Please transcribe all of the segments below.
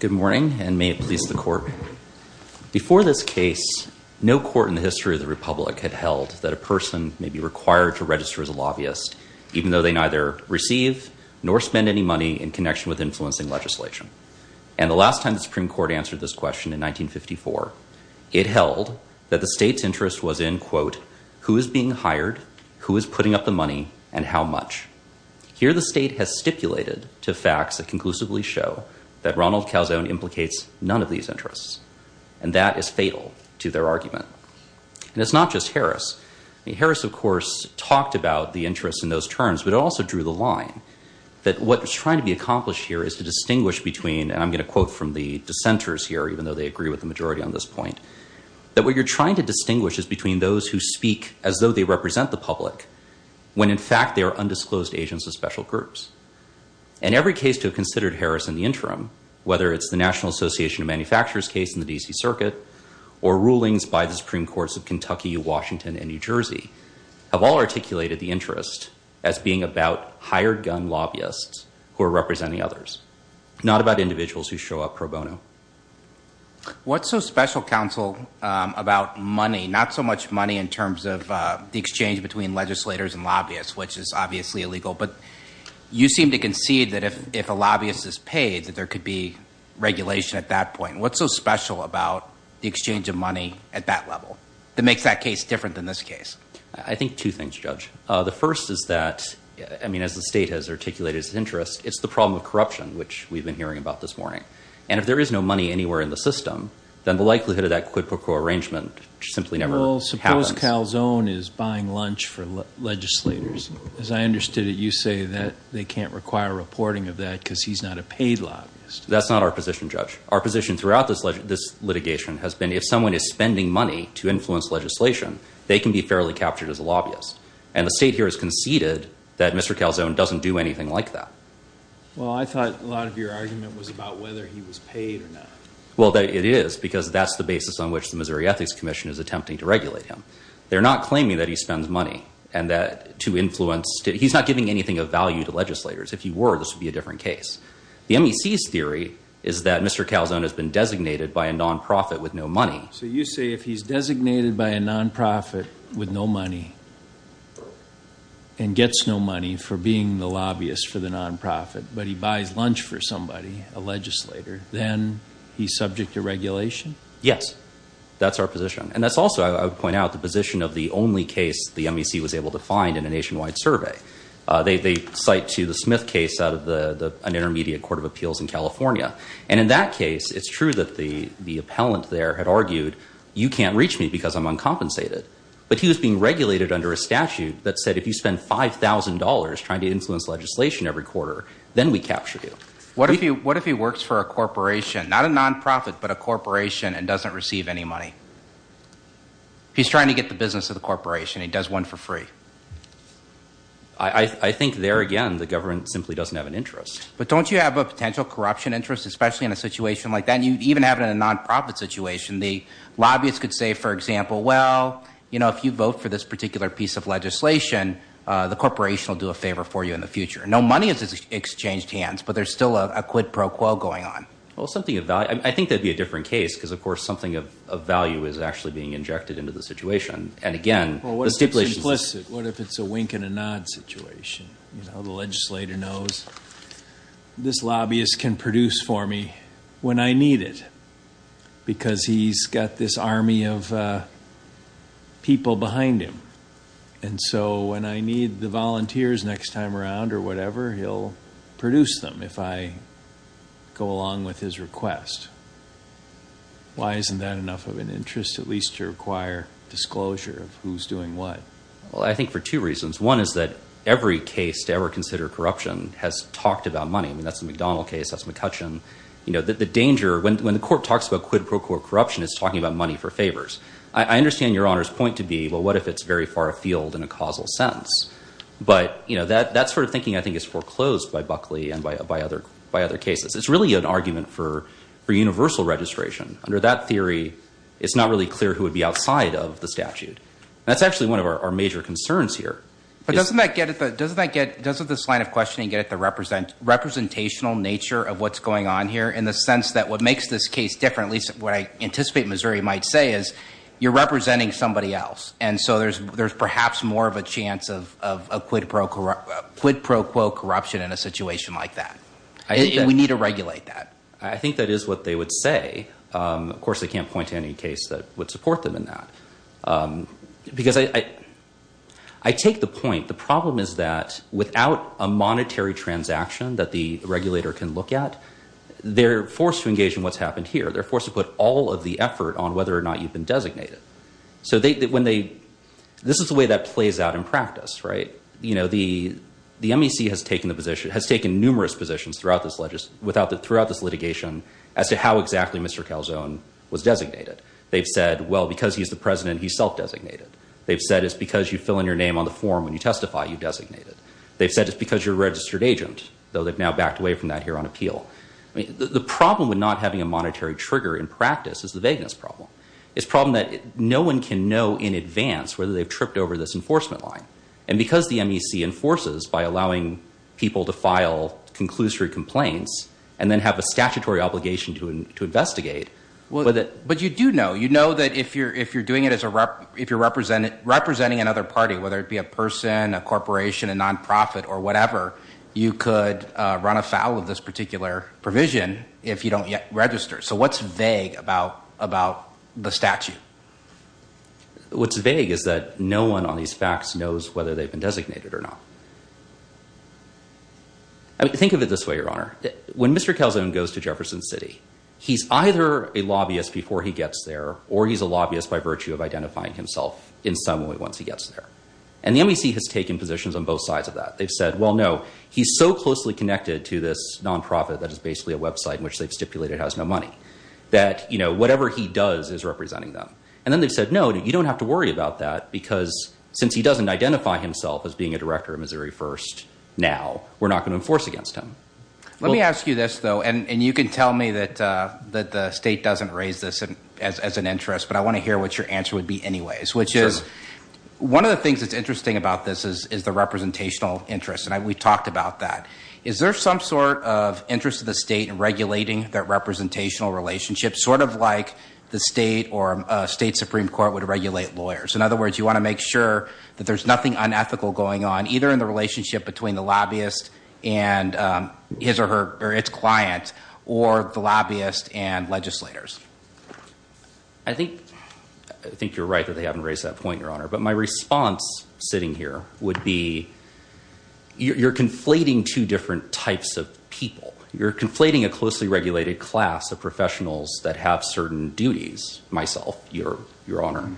Good morning, and may it please the court. Before this case, no court in the history of the republic had held that a person may be required to register as a lobbyist even though they neither receive nor spend any money in connection with influencing legislation. And the last time the Supreme Court answered this question in 1954, it held that the state's in, quote, who is being hired, who is putting up the money, and how much. Here the state has stipulated to facts that conclusively show that Ronald Calzone implicates none of these interests, and that is fatal to their argument. And it's not just Harris. I mean, Harris, of course, talked about the interest in those terms, but it also drew the line that what was trying to be accomplished here is to distinguish between, and I'm going to quote from the dissenters here, even though they agree with the majority on this point, that what you're trying to distinguish is between those who speak as though they represent the public, when in fact they are undisclosed agents of special groups. And every case to have considered Harris in the interim, whether it's the National Association of Manufacturers case in the D.C. Circuit, or rulings by the Supreme Courts of Kentucky, Washington, and New Jersey, have all articulated the interest as being about hired gun lobbyists who are representing others, not about individuals who show up pro bono. What's so special, counsel, about money, not so much money in terms of the exchange between legislators and lobbyists, which is obviously illegal, but you seem to concede that if a lobbyist is paid, that there could be regulation at that point. What's so special about the exchange of money at that level that makes that case different than this case? I think two things, Judge. The first is that, I mean, as the state has articulated its interest, it's the problem of corruption, which we've been hearing about this morning. And if there is no money anywhere in the system, then the likelihood of that quid pro quo arrangement simply never happens. Well, suppose Calzone is buying lunch for legislators. As I understood it, you say that they can't require reporting of that because he's not a paid lobbyist. That's not our position, Judge. Our position throughout this litigation has been if someone is spending money to influence legislation, they can be fairly captured as a lobbyist. And the state here has conceded that Mr. Calzone doesn't do anything like that. Well, I thought a lot of your argument was about whether he was paid or not. Well, it is, because that's the basis on which the Missouri Ethics Commission is attempting to regulate him. They're not claiming that he spends money to influence. He's not giving anything of value to legislators. If he were, this would be a different case. The MEC's theory is that Mr. Calzone has been designated by a non-profit with no money. So you say if he's designated by a non-profit with no money and gets no money for being the lobbyist for the non-profit, but he buys lunch for somebody, a legislator, then he's subject to regulation? Yes. That's our position. And that's also, I would point out, the position of the only case the MEC was able to find in a nationwide survey. They cite to the Smith case out of an intermediate court of appeals in California. And in that case, it's true that the appellant there had argued, you can't reach me because I'm uncompensated. But he was being regulated under a statute that said if you spend $5,000 trying to influence legislation every quarter, then we capture you. What if he works for a corporation? Not a non-profit, but a corporation and doesn't receive any money? If he's trying to get the business of the corporation, he does one for free. I think there again, the government simply doesn't have an interest. But don't you have a potential corruption interest, especially in a situation like that? And you even have it in a non-profit situation. The lobbyists could say, for example, well, if you vote for this particular piece of legislation, the corporation will do a favor for you in the future. No money is exchanged hands, but there's still a quid pro quo going on. Well, I think that'd be a different case because, of course, something of value is actually being injected into the situation. And again, the stipulations... Well, what if it's implicit? What if it's a wink and a nod situation? The legislator knows this lobbyist can produce for me when I need it because he's got this army of people behind him. And so when I need the volunteers next time around or whatever, he'll produce them if I go along with his request. Why isn't that enough of an interest, at least to require disclosure of who's doing what? Well, I think for two reasons. One is that every case to ever consider corruption has talked about money. I mean, that's the McDonald case, that's McCutcheon. The danger, when the court talks about quid pro quo corruption, it's talking about money for favors. I understand Your Honor's point to be, well, what if it's very far afield in a causal sense? But that sort of thinking, I think, is foreclosed by Buckley and by other cases. It's really an argument for universal registration. Under that theory, it's not really clear who would be outside of the statute. That's actually one of our major concerns here. But doesn't this line of questioning get at the representational nature of what's going on here in the sense that what makes this case different, at least what I anticipate Missouri might say, is you're representing somebody else. And so there's perhaps more of a chance of quid pro quo corruption in a situation like that. We need to regulate that. I think that is what they would say. Of course, I can't point to any case that would support them in that. Because I take the point, the problem is that without a monetary transaction that the regulator can look at, they're forced to engage in what's happened here. They're forced to put all of the effort on whether or not you've been designated. This is the way that plays out in practice. The MEC has taken numerous positions throughout this litigation as to how exactly Mr. Calzone was designated. They've said, well, because he's the president, he's self-designated. They've said it's because you fill in your name on the form when you testify you've designated. They've said it's because you're a registered agent, though they've now backed away from that here on appeal. The problem with not having a monetary trigger in practice is the vagueness problem. It's a problem that no one can know in advance whether they've tripped over this enforcement line. And because the MEC enforces by allowing people to file conclusory complaints and then have a statutory obligation to investigate. But you do know. You know that if you're representing another party, whether it be a person, a corporation, a nonprofit, or whatever, you could run afoul of this particular provision if you don't yet register. So what's vague about the statute? What's vague is that no one on these facts knows whether they've been designated or not. I mean, think of it this way, Your Honor. When Mr. Calzone goes to Jefferson City, he's either a lobbyist before he gets there, or he's a lobbyist by virtue of identifying himself in some way once he gets there. And the MEC has taken positions on both sides of that. They've said, well, no, he's so closely connected to this nonprofit that is basically a website in which they've stipulated has no money that, you know, whatever he does is representing them. And then they've said, no, you don't have to worry about that because since he doesn't identify himself as being a director of Missouri First now, we're not going to enforce against him. Let me ask you this, though, and you can tell me that the state doesn't raise this as an interest, but I want to hear what your answer would be anyways, which is one of the things that's interesting about this is the representational interest. And we talked about that. Is there some sort of interest of the state in regulating that representational relationship, sort of like the state or state Supreme Court would regulate lawyers? In other words, you want to make sure that there's nothing unethical going on either in the relationship between the lobbyist and his or her or its client or the lobbyist and legislators. I think, I think you're right that they haven't raised that point, Your Honor. But my response sitting here would be you're conflating two different types of people. You're conflating a closely regulated class of professionals that have certain duties, myself, Your Honor,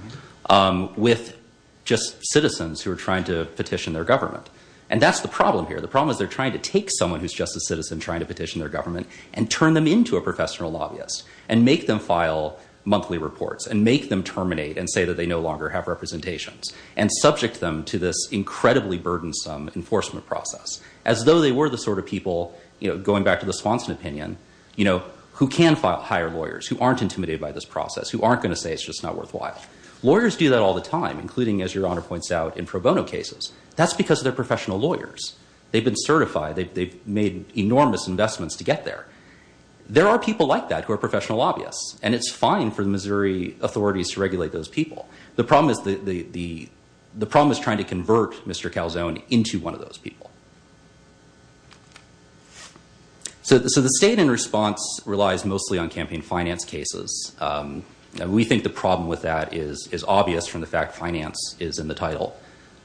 with just citizens who are trying to petition their government. And that's the problem here. The problem is they're trying to take someone who's just a citizen trying to petition their government and turn them into a professional lobbyist and make them file monthly reports and make them terminate and say that they no longer have representations and subject them to this incredibly burdensome enforcement process as though they were the sort of people, you know, going back to the Swanson opinion, you know, who can file, hire lawyers who aren't intimidated by this process, who aren't going to say it's just not worthwhile. Lawyers do that all the time, including, as Your Honor points out, in pro bono cases. That's because they're professional lawyers. They've been certified. They've made enormous investments to get there. There are people like that who are professional lobbyists. And it's fine for the Missouri authorities to regulate those people. The problem is the, the, the problem is trying to convert Mr. Calzone into one of those people. So, so the state in response relies mostly on campaign finance cases. We think the problem with that is, is obvious from the fact finance is in the title.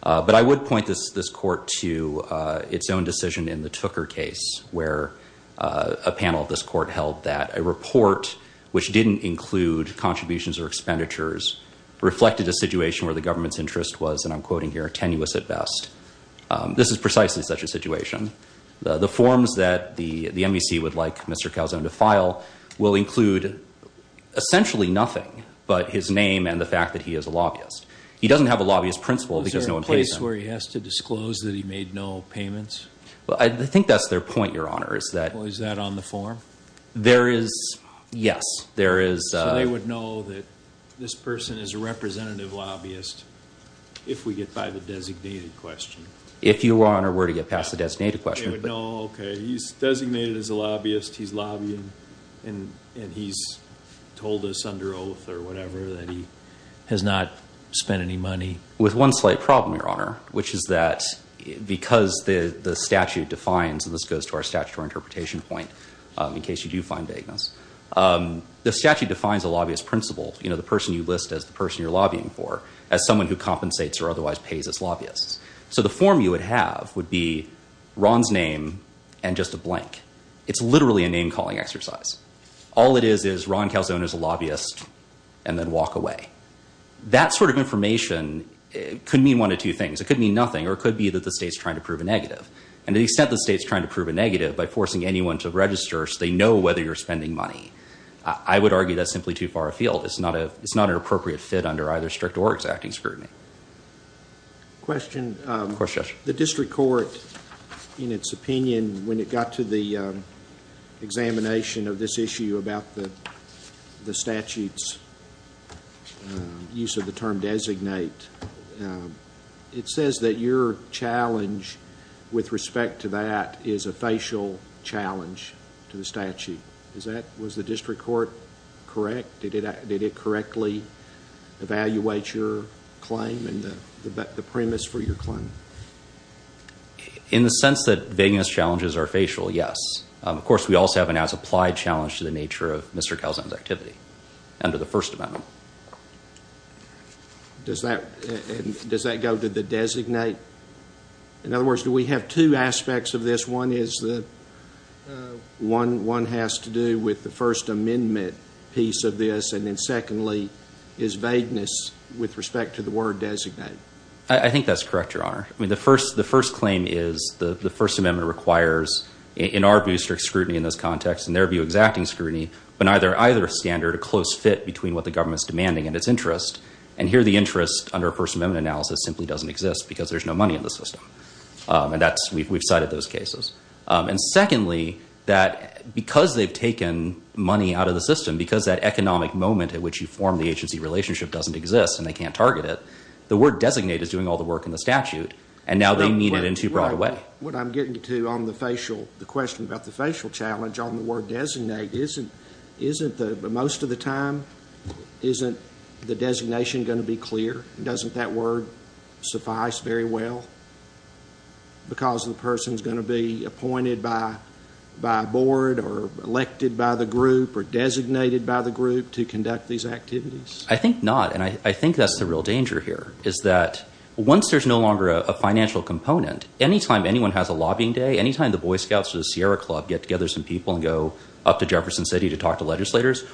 But I would point this, this court to its own decision in the Tooker case where a panel of this court held that a report which didn't include contributions or expenditures reflected a situation where the government's at best. This is precisely such a situation. The, the forms that the, the MVC would like Mr. Calzone to file will include essentially nothing but his name and the fact that he is a lobbyist. He doesn't have a lobbyist principle because no one pays him. Is there a place where he has to disclose that he made no payments? Well, I, I think that's their point, Your Honor, is that. Well, is that on the form? There is, yes. There is. So they would know that this person is a representative lobbyist if we get by the designated question? If Your Honor were to get past the designated question. They would know, okay, he's designated as a lobbyist, he's lobbying, and, and he's told us under oath or whatever that he has not spent any money? With one slight problem, Your Honor, which is that because the, the statute defines, and this goes to our statutory interpretation point in case you do find vagueness. The statute defines a lobbyist principle, you know, the person you list as the person you're lobbying for as someone who compensates or otherwise pays as lobbyists. So the form you would have would be Ron's name and just a blank. It's literally a name calling exercise. All it is is Ron Calzone is a lobbyist and then walk away. That sort of information could mean one of two things. It could mean nothing or it could be that the state's trying to prove a negative. And to the extent the state's trying to prove a negative by forcing anyone to register so they know whether you're spending money, I would argue that's simply too far afield. It's not a, it's not an appropriate fit under either strict or exacting scrutiny. Question. Of course, Judge. The district court, in its opinion, when it got to the examination of this issue about the statute's use of the term designate, it says that your challenge with respect to that is a facial challenge to the statute. Is that, was the district court correct? Did it correctly evaluate your claim and the premise for your claim? In the sense that vagueness challenges are facial, yes. Of course, we also have an as-applied challenge to the nature of Mr. Calzone's activity under the first amendment. Does that, does that go to the designate? In other words, do we have two aspects of this? One is the, one has to do with the first amendment piece of this and then secondly is vagueness with respect to the word designate? I think that's correct, Your Honor. I mean, the first, the first claim is the first amendment requires, in our view, strict scrutiny in this context. In their view, exacting scrutiny. But neither, either standard a close fit between what the government's demanding and its interest. And here the interest under a first amendment analysis simply doesn't exist because there's no money in the system. And that's, we've cited those cases. And secondly, that because they've taken money out of the system, because that economic moment at which you form the agency relationship doesn't exist and they can't target it, the word designate is doing all the work in the statute and now they need it in too broad a way. What I'm getting to on the facial, the question about the facial challenge on the word designate isn't, isn't the, most of the time, isn't the designation going to be clear? Doesn't that word suffice very well? Because the person's going to be appointed by, by a board or elected by the group or designated by the group to conduct these activities? I think not. And I, I think that's the real danger here is that once there's no longer a financial component, anytime anyone has a lobbying day, anytime the Boy Scouts or legislators,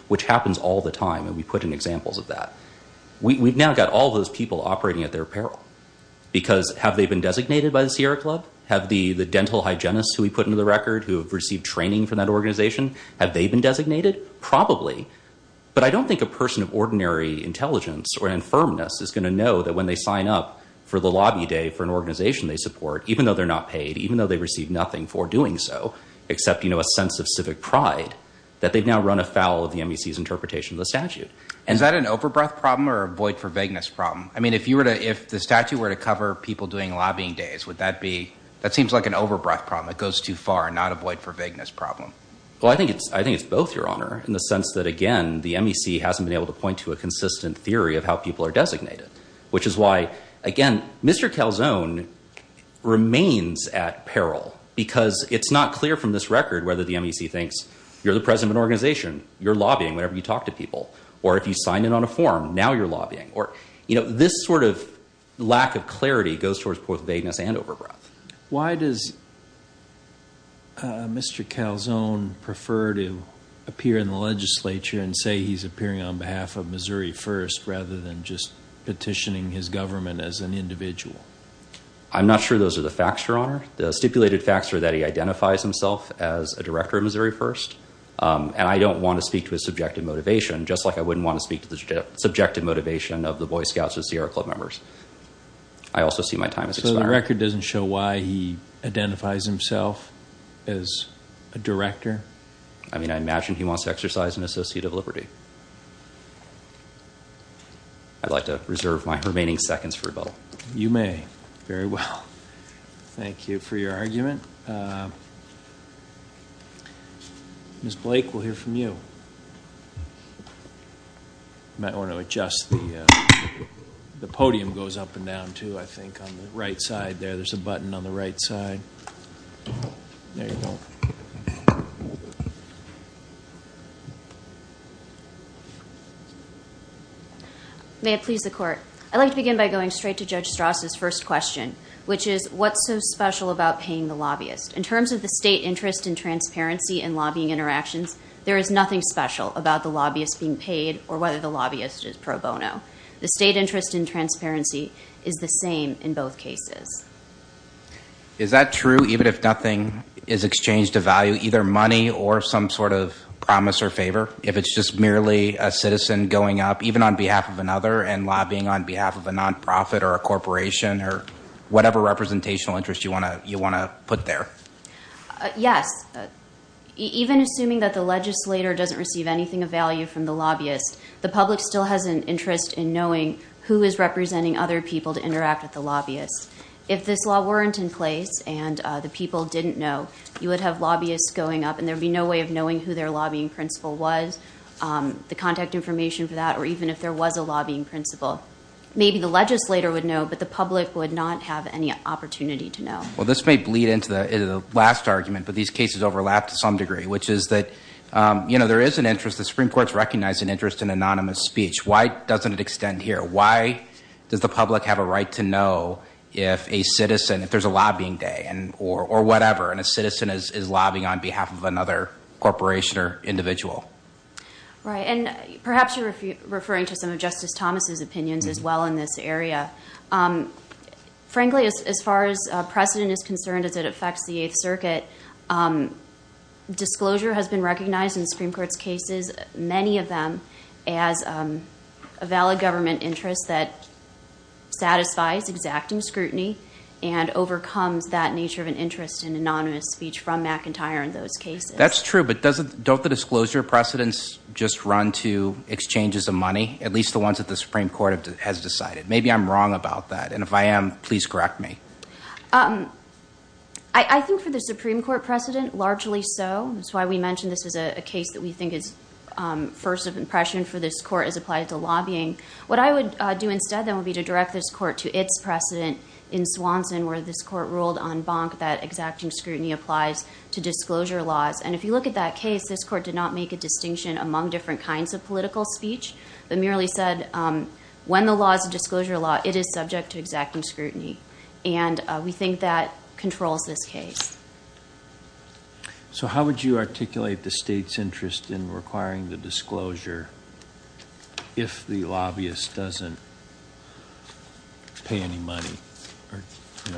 which happens all the time, and we put in examples of that, we've now got all those people operating at their peril because have they been designated by the Sierra Club? Have the, the dental hygienists who we put into the record who have received training from that organization, have they been designated? Probably. But I don't think a person of ordinary intelligence or infirmness is going to know that when they sign up for the lobby day for an organization they support, even though they're not paid, even though they received nothing for doing so, except, you know, a sense of civic pride, that they've now run afoul of the MEC's interpretation of the statute. Is that an over-breath problem or a void for vagueness problem? I mean, if you were to, if the statute were to cover people doing lobbying days, would that be, that seems like an over-breath problem. It goes too far, not a void for vagueness problem. Well, I think it's, I think it's both, Your Honor, in the sense that, again, the MEC hasn't been able to point to a consistent theory of how people are designated, which is why, again, Mr. Calzone remains at peril, because it's not clear from this record whether the MEC thinks, you're the president of an organization, you're lobbying whenever you talk to people, or if you sign in on a form, now you're lobbying, or, you know, this sort of lack of clarity goes towards both vagueness and over-breath. Why does Mr. Calzone prefer to appear in the legislature and say he's appearing on behalf of Missouri First rather than just petitioning his government as an individual? I'm not sure those are the facts, Your Honor. The stipulated facts are that he identifies himself as a director of Missouri First, and I don't want to speak to his subjective motivation just like I wouldn't want to speak to the subjective motivation of the Boy Scouts or Sierra Club members. I also see my time as expired. So the record doesn't show why he identifies himself as a director? I mean, I imagine he wants to exercise an associate of liberty. I'd like to reserve my remaining seconds for rebuttal. You may. Very well. Thank you for your argument. Ms. Blake, we'll hear from you. I might want to adjust the podium goes up and down, too, I think, on the right side there. There's a button on the right side. There you go. May it please the Court. I'd like to begin by going straight to Judge Strauss' first question, which is, what's so special about paying the lobbyist? In terms of the state interest in transparency and lobbying interactions, there is nothing special about the lobbyist being paid or whether the lobbyist is pro bono. The state interest in transparency is the same in both cases. Is that true, even if nothing is exchanged of value, either money or some sort of promise or favor, if it's just merely a citizen going up, even on behalf of another, and lobbying on behalf of a nonprofit or a corporation or whatever representational interest you want to put there? Yes. Even assuming that the legislator doesn't receive anything of value from the lobbyist, the public still has an interest in knowing who is representing other people to interact with the lobbyist. If this law weren't in place and the people didn't know, you would have lobbyists going up and there would be no way of knowing who their lobbying principal was, the contact information for that, or even if there was a lobbying principal. Maybe the legislator would know, but the public would not have any opportunity to know. Well, this may bleed into the last argument, but these cases overlap to some degree, which is an anonymous speech. Why doesn't it extend here? Why does the public have a right to know if a citizen, if there's a lobbying day or whatever, and a citizen is lobbying on behalf of another corporation or individual? Perhaps you're referring to some of Justice Thomas' opinions as well in this area. Frankly, as far as precedent is concerned, as it affects the Eighth Circuit, disclosure has been recognized in the Supreme Court's cases, many of them as a valid government interest that satisfies exacting scrutiny and overcomes that nature of an interest in anonymous speech from McIntyre in those cases. That's true, but don't the disclosure precedents just run to exchanges of money, at least the ones that the Supreme Court has decided? Maybe I'm wrong about that, and if I am, please correct me. I think for the Supreme Court precedent, largely so. That's why we mentioned this is a case that we think is first of impression for this Court as applied to lobbying. What I would do instead, then, would be to direct this Court to its precedent in Swanson, where this Court ruled en banc that exacting scrutiny applies to disclosure laws. And if you look at that case, this Court did not make a distinction among different kinds of political speech, but merely said when the law is a disclosure law, it is subject to exacting scrutiny. And we think that controls this case. So how would you articulate the state's interest in requiring the disclosure if the lobbyist doesn't pay any money or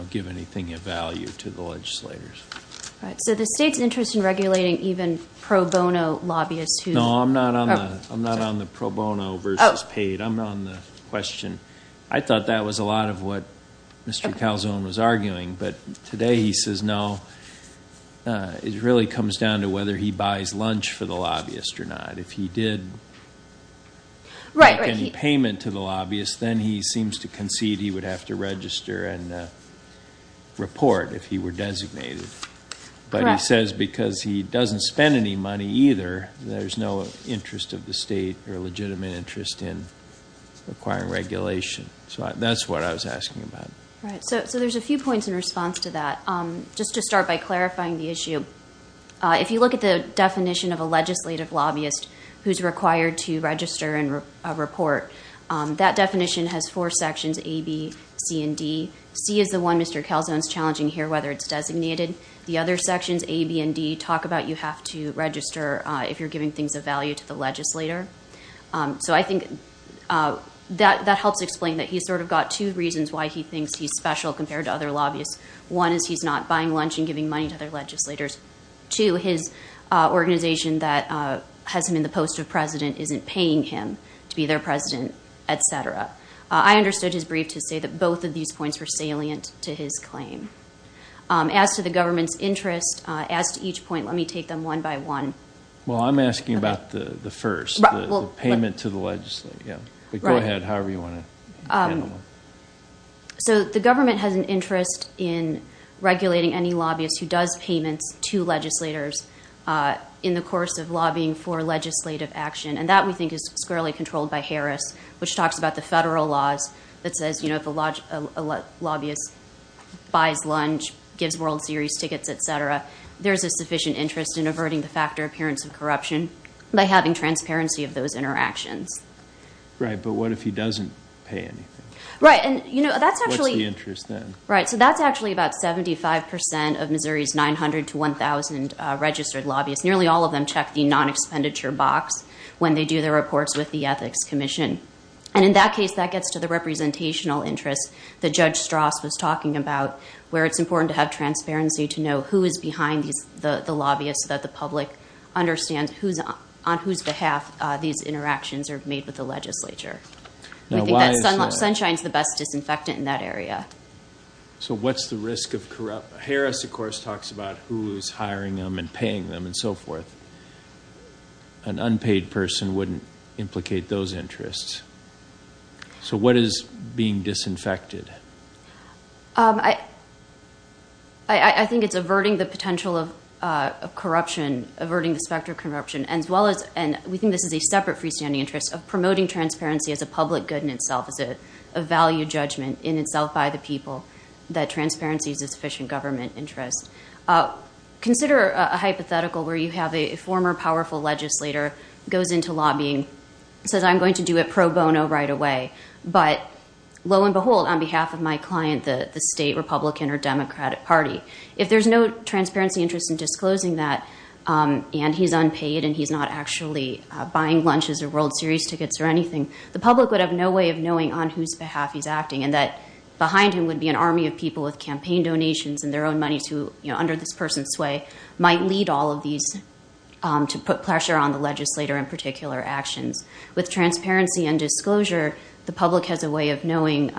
give anything of value to the legislators? So the state's interest in regulating even pro bono lobbyists who... No, I'm not on the pro bono versus paid. I'm on the question. I thought that was a lot of what Mr. Calzone was arguing, but today he says no. It really comes down to whether he buys lunch for the lobbyist or not. If he did make any payment to the lobbyist, then he seems to concede he would have to register and report if he were designated. But he says because he doesn't spend any money either, there's no interest of the state or legitimate interest in requiring regulation. So that's what I was asking about. Right. So there's a few points in response to that. Just to start by clarifying the issue, if you look at the definition of a legislative lobbyist who's required to register and report, that definition has four sections, A, B, C, and D. C is the one Mr. Calzone's challenging here, whether it's designated. The other sections, A, B, and D, talk about you have to register if you're giving things of value to the legislator. So I think that helps explain that he's sort of got two reasons why he thinks he's special compared to other lobbyists. One is he's not buying lunch and giving money to other legislators. Two, his organization that has him in the post of president isn't paying him to be their president, et cetera. I understood his brief to say that both of these points were salient to his claim. As to the government's interest, as to each point, let me take them one by one. Well, I'm asking about the first, the payment to the legislator. Go ahead, however you want to handle it. So the government has an interest in regulating any lobbyist who does payments to legislators in the course of lobbying for legislative action. And that, we think, is squarely controlled by Harris, which talks about the federal laws that says if a lobbyist buys lunch, gives World Series tickets, et cetera, there's a sufficient interest in averting the factor appearance of corruption by having transparency of those interactions. Right, but what if he doesn't pay anything? Right, and that's actually- What's the interest then? Right, so that's actually about 75% of Missouri's 900 to 1,000 registered lobbyists. Nearly all of them check the non-expenditure box when they do their reports with the Ethics Commission. And in that case, that gets to the representational interest that Judge Strauss was talking about, where it's important to have transparency to know who is behind the lobbyists so that the public understands on whose behalf these interactions are made with the legislature. We think that Sunshine's the best disinfectant in that area. So what's the risk of corrupt- Harris, of course, talks about who is hiring them and so forth. An unpaid person wouldn't implicate those interests. So what is being disinfected? I think it's averting the potential of corruption, averting the specter of corruption, as well as- and we think this is a separate freestanding interest of promoting transparency as a public good in itself, as a value judgment in itself by the people, that transparency is a sufficient government interest. Consider a hypothetical where you have a former powerful legislator goes into lobbying, says, I'm going to do it pro bono right away. But lo and behold, on behalf of my client, the state Republican or Democratic Party, if there's no transparency interest in disclosing that, and he's unpaid and he's not actually buying lunches or World Series tickets or anything, the public would have no way of knowing on whose behalf he's investing their own money to, you know, under this person's sway, might lead all of these to put pressure on the legislator in particular actions. With transparency and disclosure, the public has a way of knowing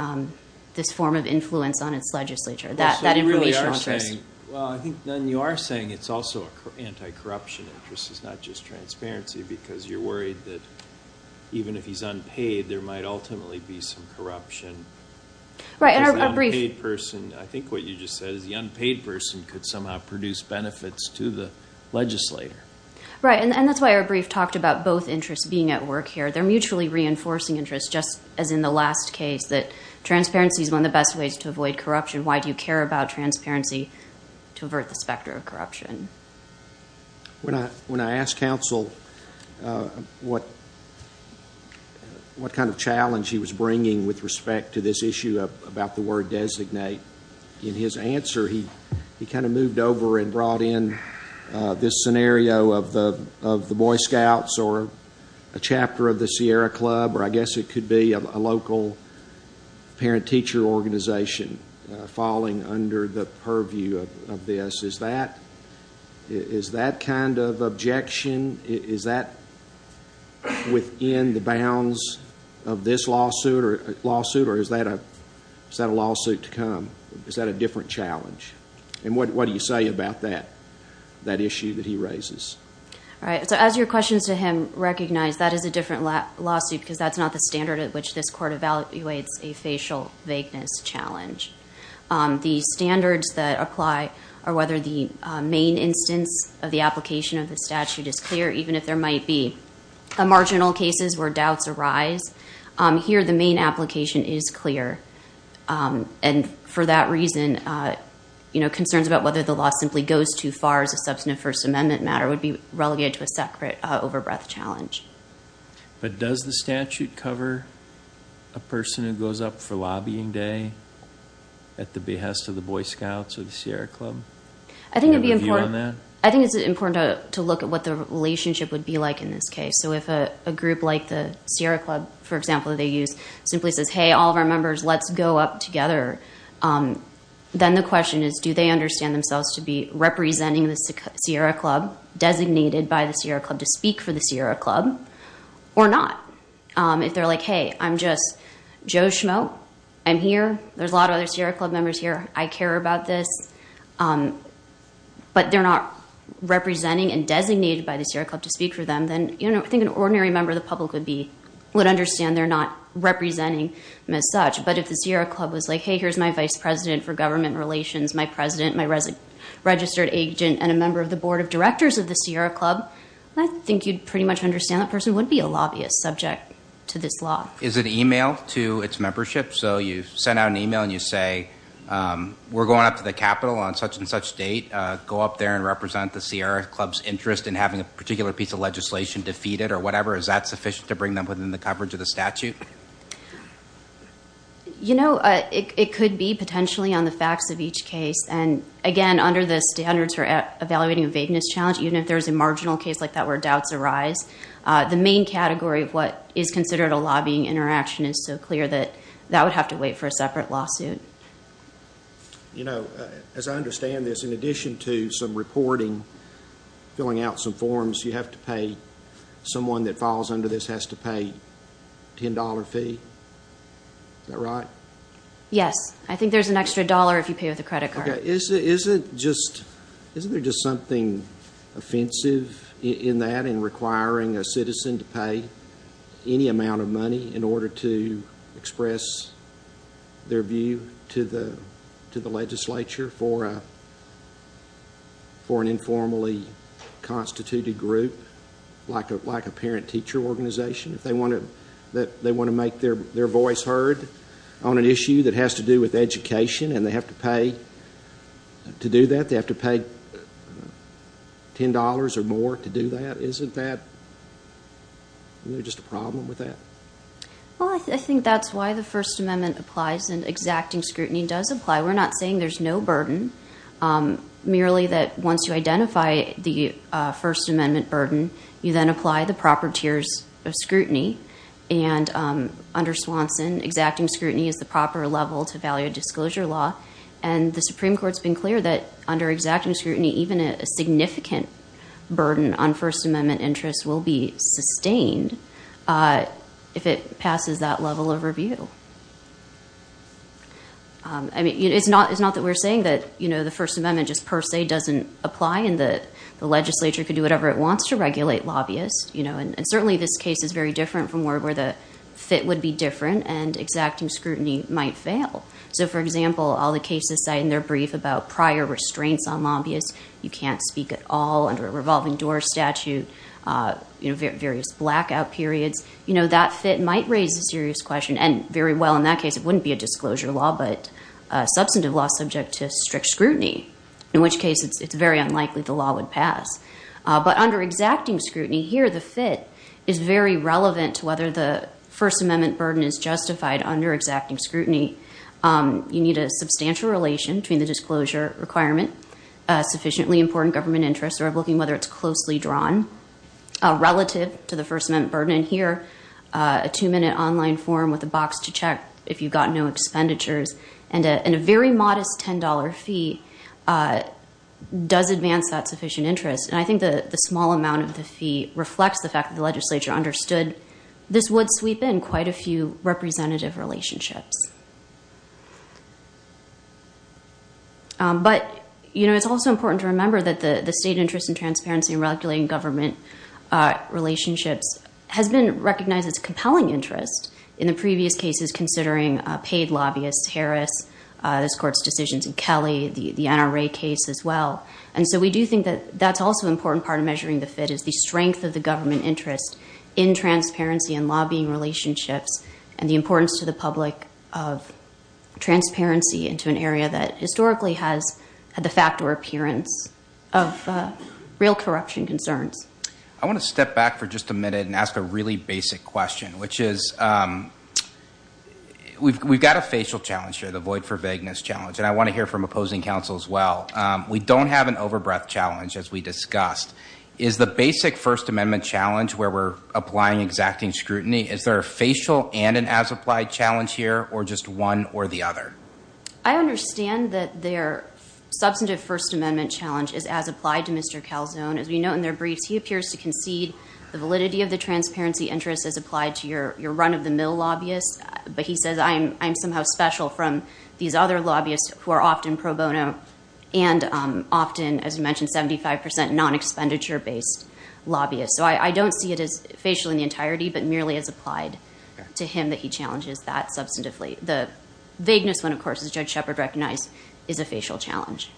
this form of influence on its legislature. That information interest- Well, I think then you are saying it's also an anti-corruption interest, it's not just transparency, because you're worried that even if he's unpaid, there might ultimately be some corruption. Right, in our brief- As an unpaid person, I think what you just said is the unpaid person could somehow produce benefits to the legislator. Right, and that's why our brief talked about both interests being at work here. They're mutually reinforcing interest, just as in the last case, that transparency is one of the best ways to avoid corruption. Why do you care about transparency to avert the specter of corruption? When I asked counsel what kind of challenge he was bringing with respect to this issue about the word designate, in his answer, he kind of moved over and brought in this scenario of the Boy Scouts or a chapter of the Sierra Club, or I guess it could be a local parent-teacher organization falling under the purview of this. Is that kind of objection, is that within the bounds of this lawsuit to come, is that a different challenge? And what do you say about that, that issue that he raises? All right, so as your questions to him recognize, that is a different lawsuit because that's not the standard at which this court evaluates a facial vagueness challenge. The standards that apply are whether the main instance of the application of the statute is clear, even if there might be marginal cases where doubts arise. Here, the main application is clear. And for that reason, concerns about whether the law simply goes too far as a substantive First Amendment matter would be relegated to a separate over-breath challenge. But does the statute cover a person who goes up for lobbying day at the behest of the Boy Scouts or the Sierra Club? Do you have a view on that? I think it's important to look at what the relationship would be like in this case. So if a group like the Sierra Club, for example, they use, simply says, hey, all of our members, let's go up together. Then the question is, do they understand themselves to be representing the Sierra Club, designated by the Sierra Club to speak for the Sierra Club, or not? If they're like, hey, I'm just Joe Schmoe, I'm here, there's a lot of other Sierra Club members here, I care about this, but they're not representing and designated by the Sierra Club to speak for them, then I think an ordinary member of the public would understand they're not representing them as such. But if the Sierra Club was like, hey, here's my vice president for government relations, my president, my registered agent, and a member of the board of directors of the Sierra Club, I think you'd pretty much understand that person would be a lobbyist subject to this law. Is it emailed to its membership? So you send out an email and you say, we're going up to the Capitol on such and such date, go up there and represent the Sierra Club's interest in having a particular piece of legislation defeated or whatever, is that sufficient to bring them within the coverage of the statute? You know, it could be potentially on the facts of each case. And again, under the standards for evaluating a vagueness challenge, even if there's a marginal case like that where doubts arise, the main category of what is considered a lobbying interaction is so clear that that would have to wait for a separate lawsuit. And, you know, as I understand this, in addition to some reporting, filling out some forms, you have to pay, someone that falls under this has to pay a $10 fee, is that right? Yes. I think there's an extra dollar if you pay with a credit card. Is it just, isn't there just something offensive in that in requiring a citizen to pay any amount of money in order to express their view to the legislature for an informally constituted group like a parent-teacher organization? If they want to make their voice heard on an issue that has to do with education and they have to pay to do that, they have to pay $10 or more to do that, isn't that just a problem with that? Well, I think that's why the First Amendment applies and exacting scrutiny does apply. We're not saying there's no burden, merely that once you identify the First Amendment burden, you then apply the proper tiers of scrutiny. And under Swanson, exacting scrutiny is the proper level to value a disclosure law. And the Supreme Court's been clear that under exacting scrutiny, even a significant burden on First Amendment interests will be if it passes that level of review. It's not that we're saying that the First Amendment just per se doesn't apply and the legislature can do whatever it wants to regulate lobbyists. And certainly this case is very different from where the fit would be different and exacting scrutiny might fail. So for example, all the cases cited in their brief about prior restraints on lobbyists, you can't speak at all under a revolving door statute, various blackout periods. That fit might raise a serious question and very well in that case it wouldn't be a disclosure law but a substantive law subject to strict scrutiny, in which case it's very unlikely the law would pass. But under exacting scrutiny, here the fit is very relevant to whether the First Amendment burden is justified under exacting scrutiny. You need a substantial relation between the disclosure requirement, sufficiently important government interest, or looking whether it's closely drawn relative to the First Amendment burden. And here, a two-minute online form with a box to check if you've got no expenditures and a very modest $10 fee does advance that sufficient interest. And I think the small amount of the fee reflects the fact that the legislature understood this would sweep in quite a few representative relationships. But, you know, it's also important to remember that the state interest in transparency and regulating government relationships has been recognized as compelling interest in the previous cases considering paid lobbyists, Harris, this Court's decisions in Kelly, the NRA case as well. And so we do think that that's also an important part of measuring the fit is the strength of the government interest in transparency and lobbying relationships and the importance to the public of transparency into an area that historically has had the fact or appearance of real corruption concerns. I want to step back for just a minute and ask a really basic question, which is we've got a facial challenge here, the void for vagueness challenge, and I want to hear from opposing counsel as well. We don't have an overbreath challenge, as we discussed. Is the basic First Amendment challenge where we're applying exacting scrutiny, is there a facial and an as-applied challenge here, or just one or the other? I understand that their substantive First Amendment challenge is as applied to Mr. Calzone. As we note in their briefs, he appears to concede the validity of the transparency interest as applied to your run-of-the-mill lobbyists, but he says I'm somehow special from these other lobbyists who are often pro bono and often, as you mentioned, 75 percent non-expenditure-based lobbyists. So I don't see it as facial in the entirety, but merely as applied to him that he challenges that substantively. The vagueness one, of course, as Judge Shepard recognized, is a facial challenge.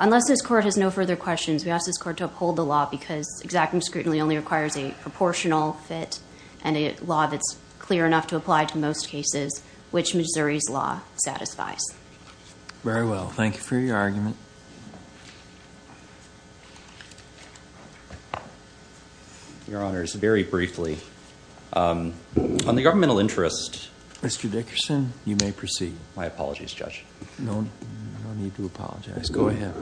Unless this Court has no further questions, we ask this Court to uphold the law because exacting scrutiny only requires a proportional fit and a law that's clear enough to apply to most cases, which Missouri's law satisfies. Very well. Thank you for your argument. Your Honors, very briefly, on the governmental interest... Mr. Dickerson, you may proceed. My apologies, Judge. No need to apologize. Go ahead.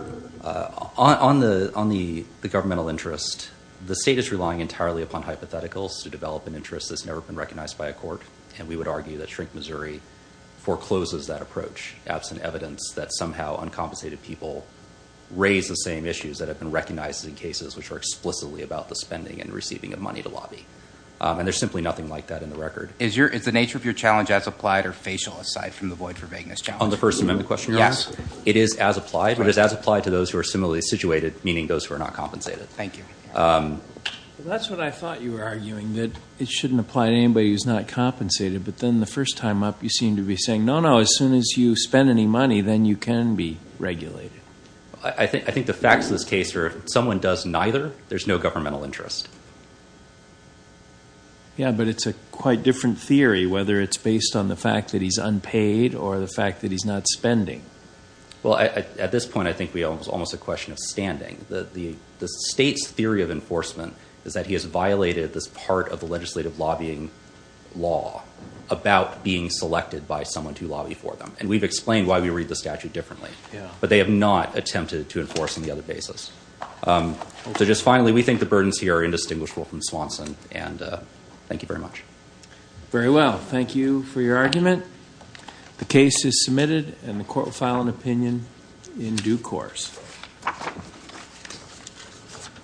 On the governmental interest, the State is relying entirely upon hypotheticals to develop an interest that's never been recognized by a court, and we would argue that Shrink Missouri forecloses that approach, absent evidence that somehow uncompensated people raise the same issues that have been recognized in cases which are explicitly about the spending and receiving of money to lobby. And there's simply nothing like that in the record. Is the nature of your challenge as applied or facial aside from the void for vagueness challenge? On the First Amendment question? Yes. It is as applied, but it's as applied to those who are similarly situated, meaning those who are not compensated. Thank you. That's what I thought you were arguing, that it shouldn't apply to anybody who's not compensated, but then the first time up, you seem to be saying, no, no, as soon as you spend any money, then you can be regulated. I think the facts of this case are if someone does neither, there's no governmental interest. Yeah, but it's a quite different theory, whether it's based on the fact that he's unpaid or the fact that he's not spending. Well, at this point, I think it's almost a question of standing. The State's theory of about being selected by someone to lobby for them. And we've explained why we read the statute differently. But they have not attempted to enforce on the other basis. So just finally, we think the burdens here are indistinguishable from Swanson. And thank you very much. Very well. Thank you for your argument. The case is submitted and the court will file an opinion in due course.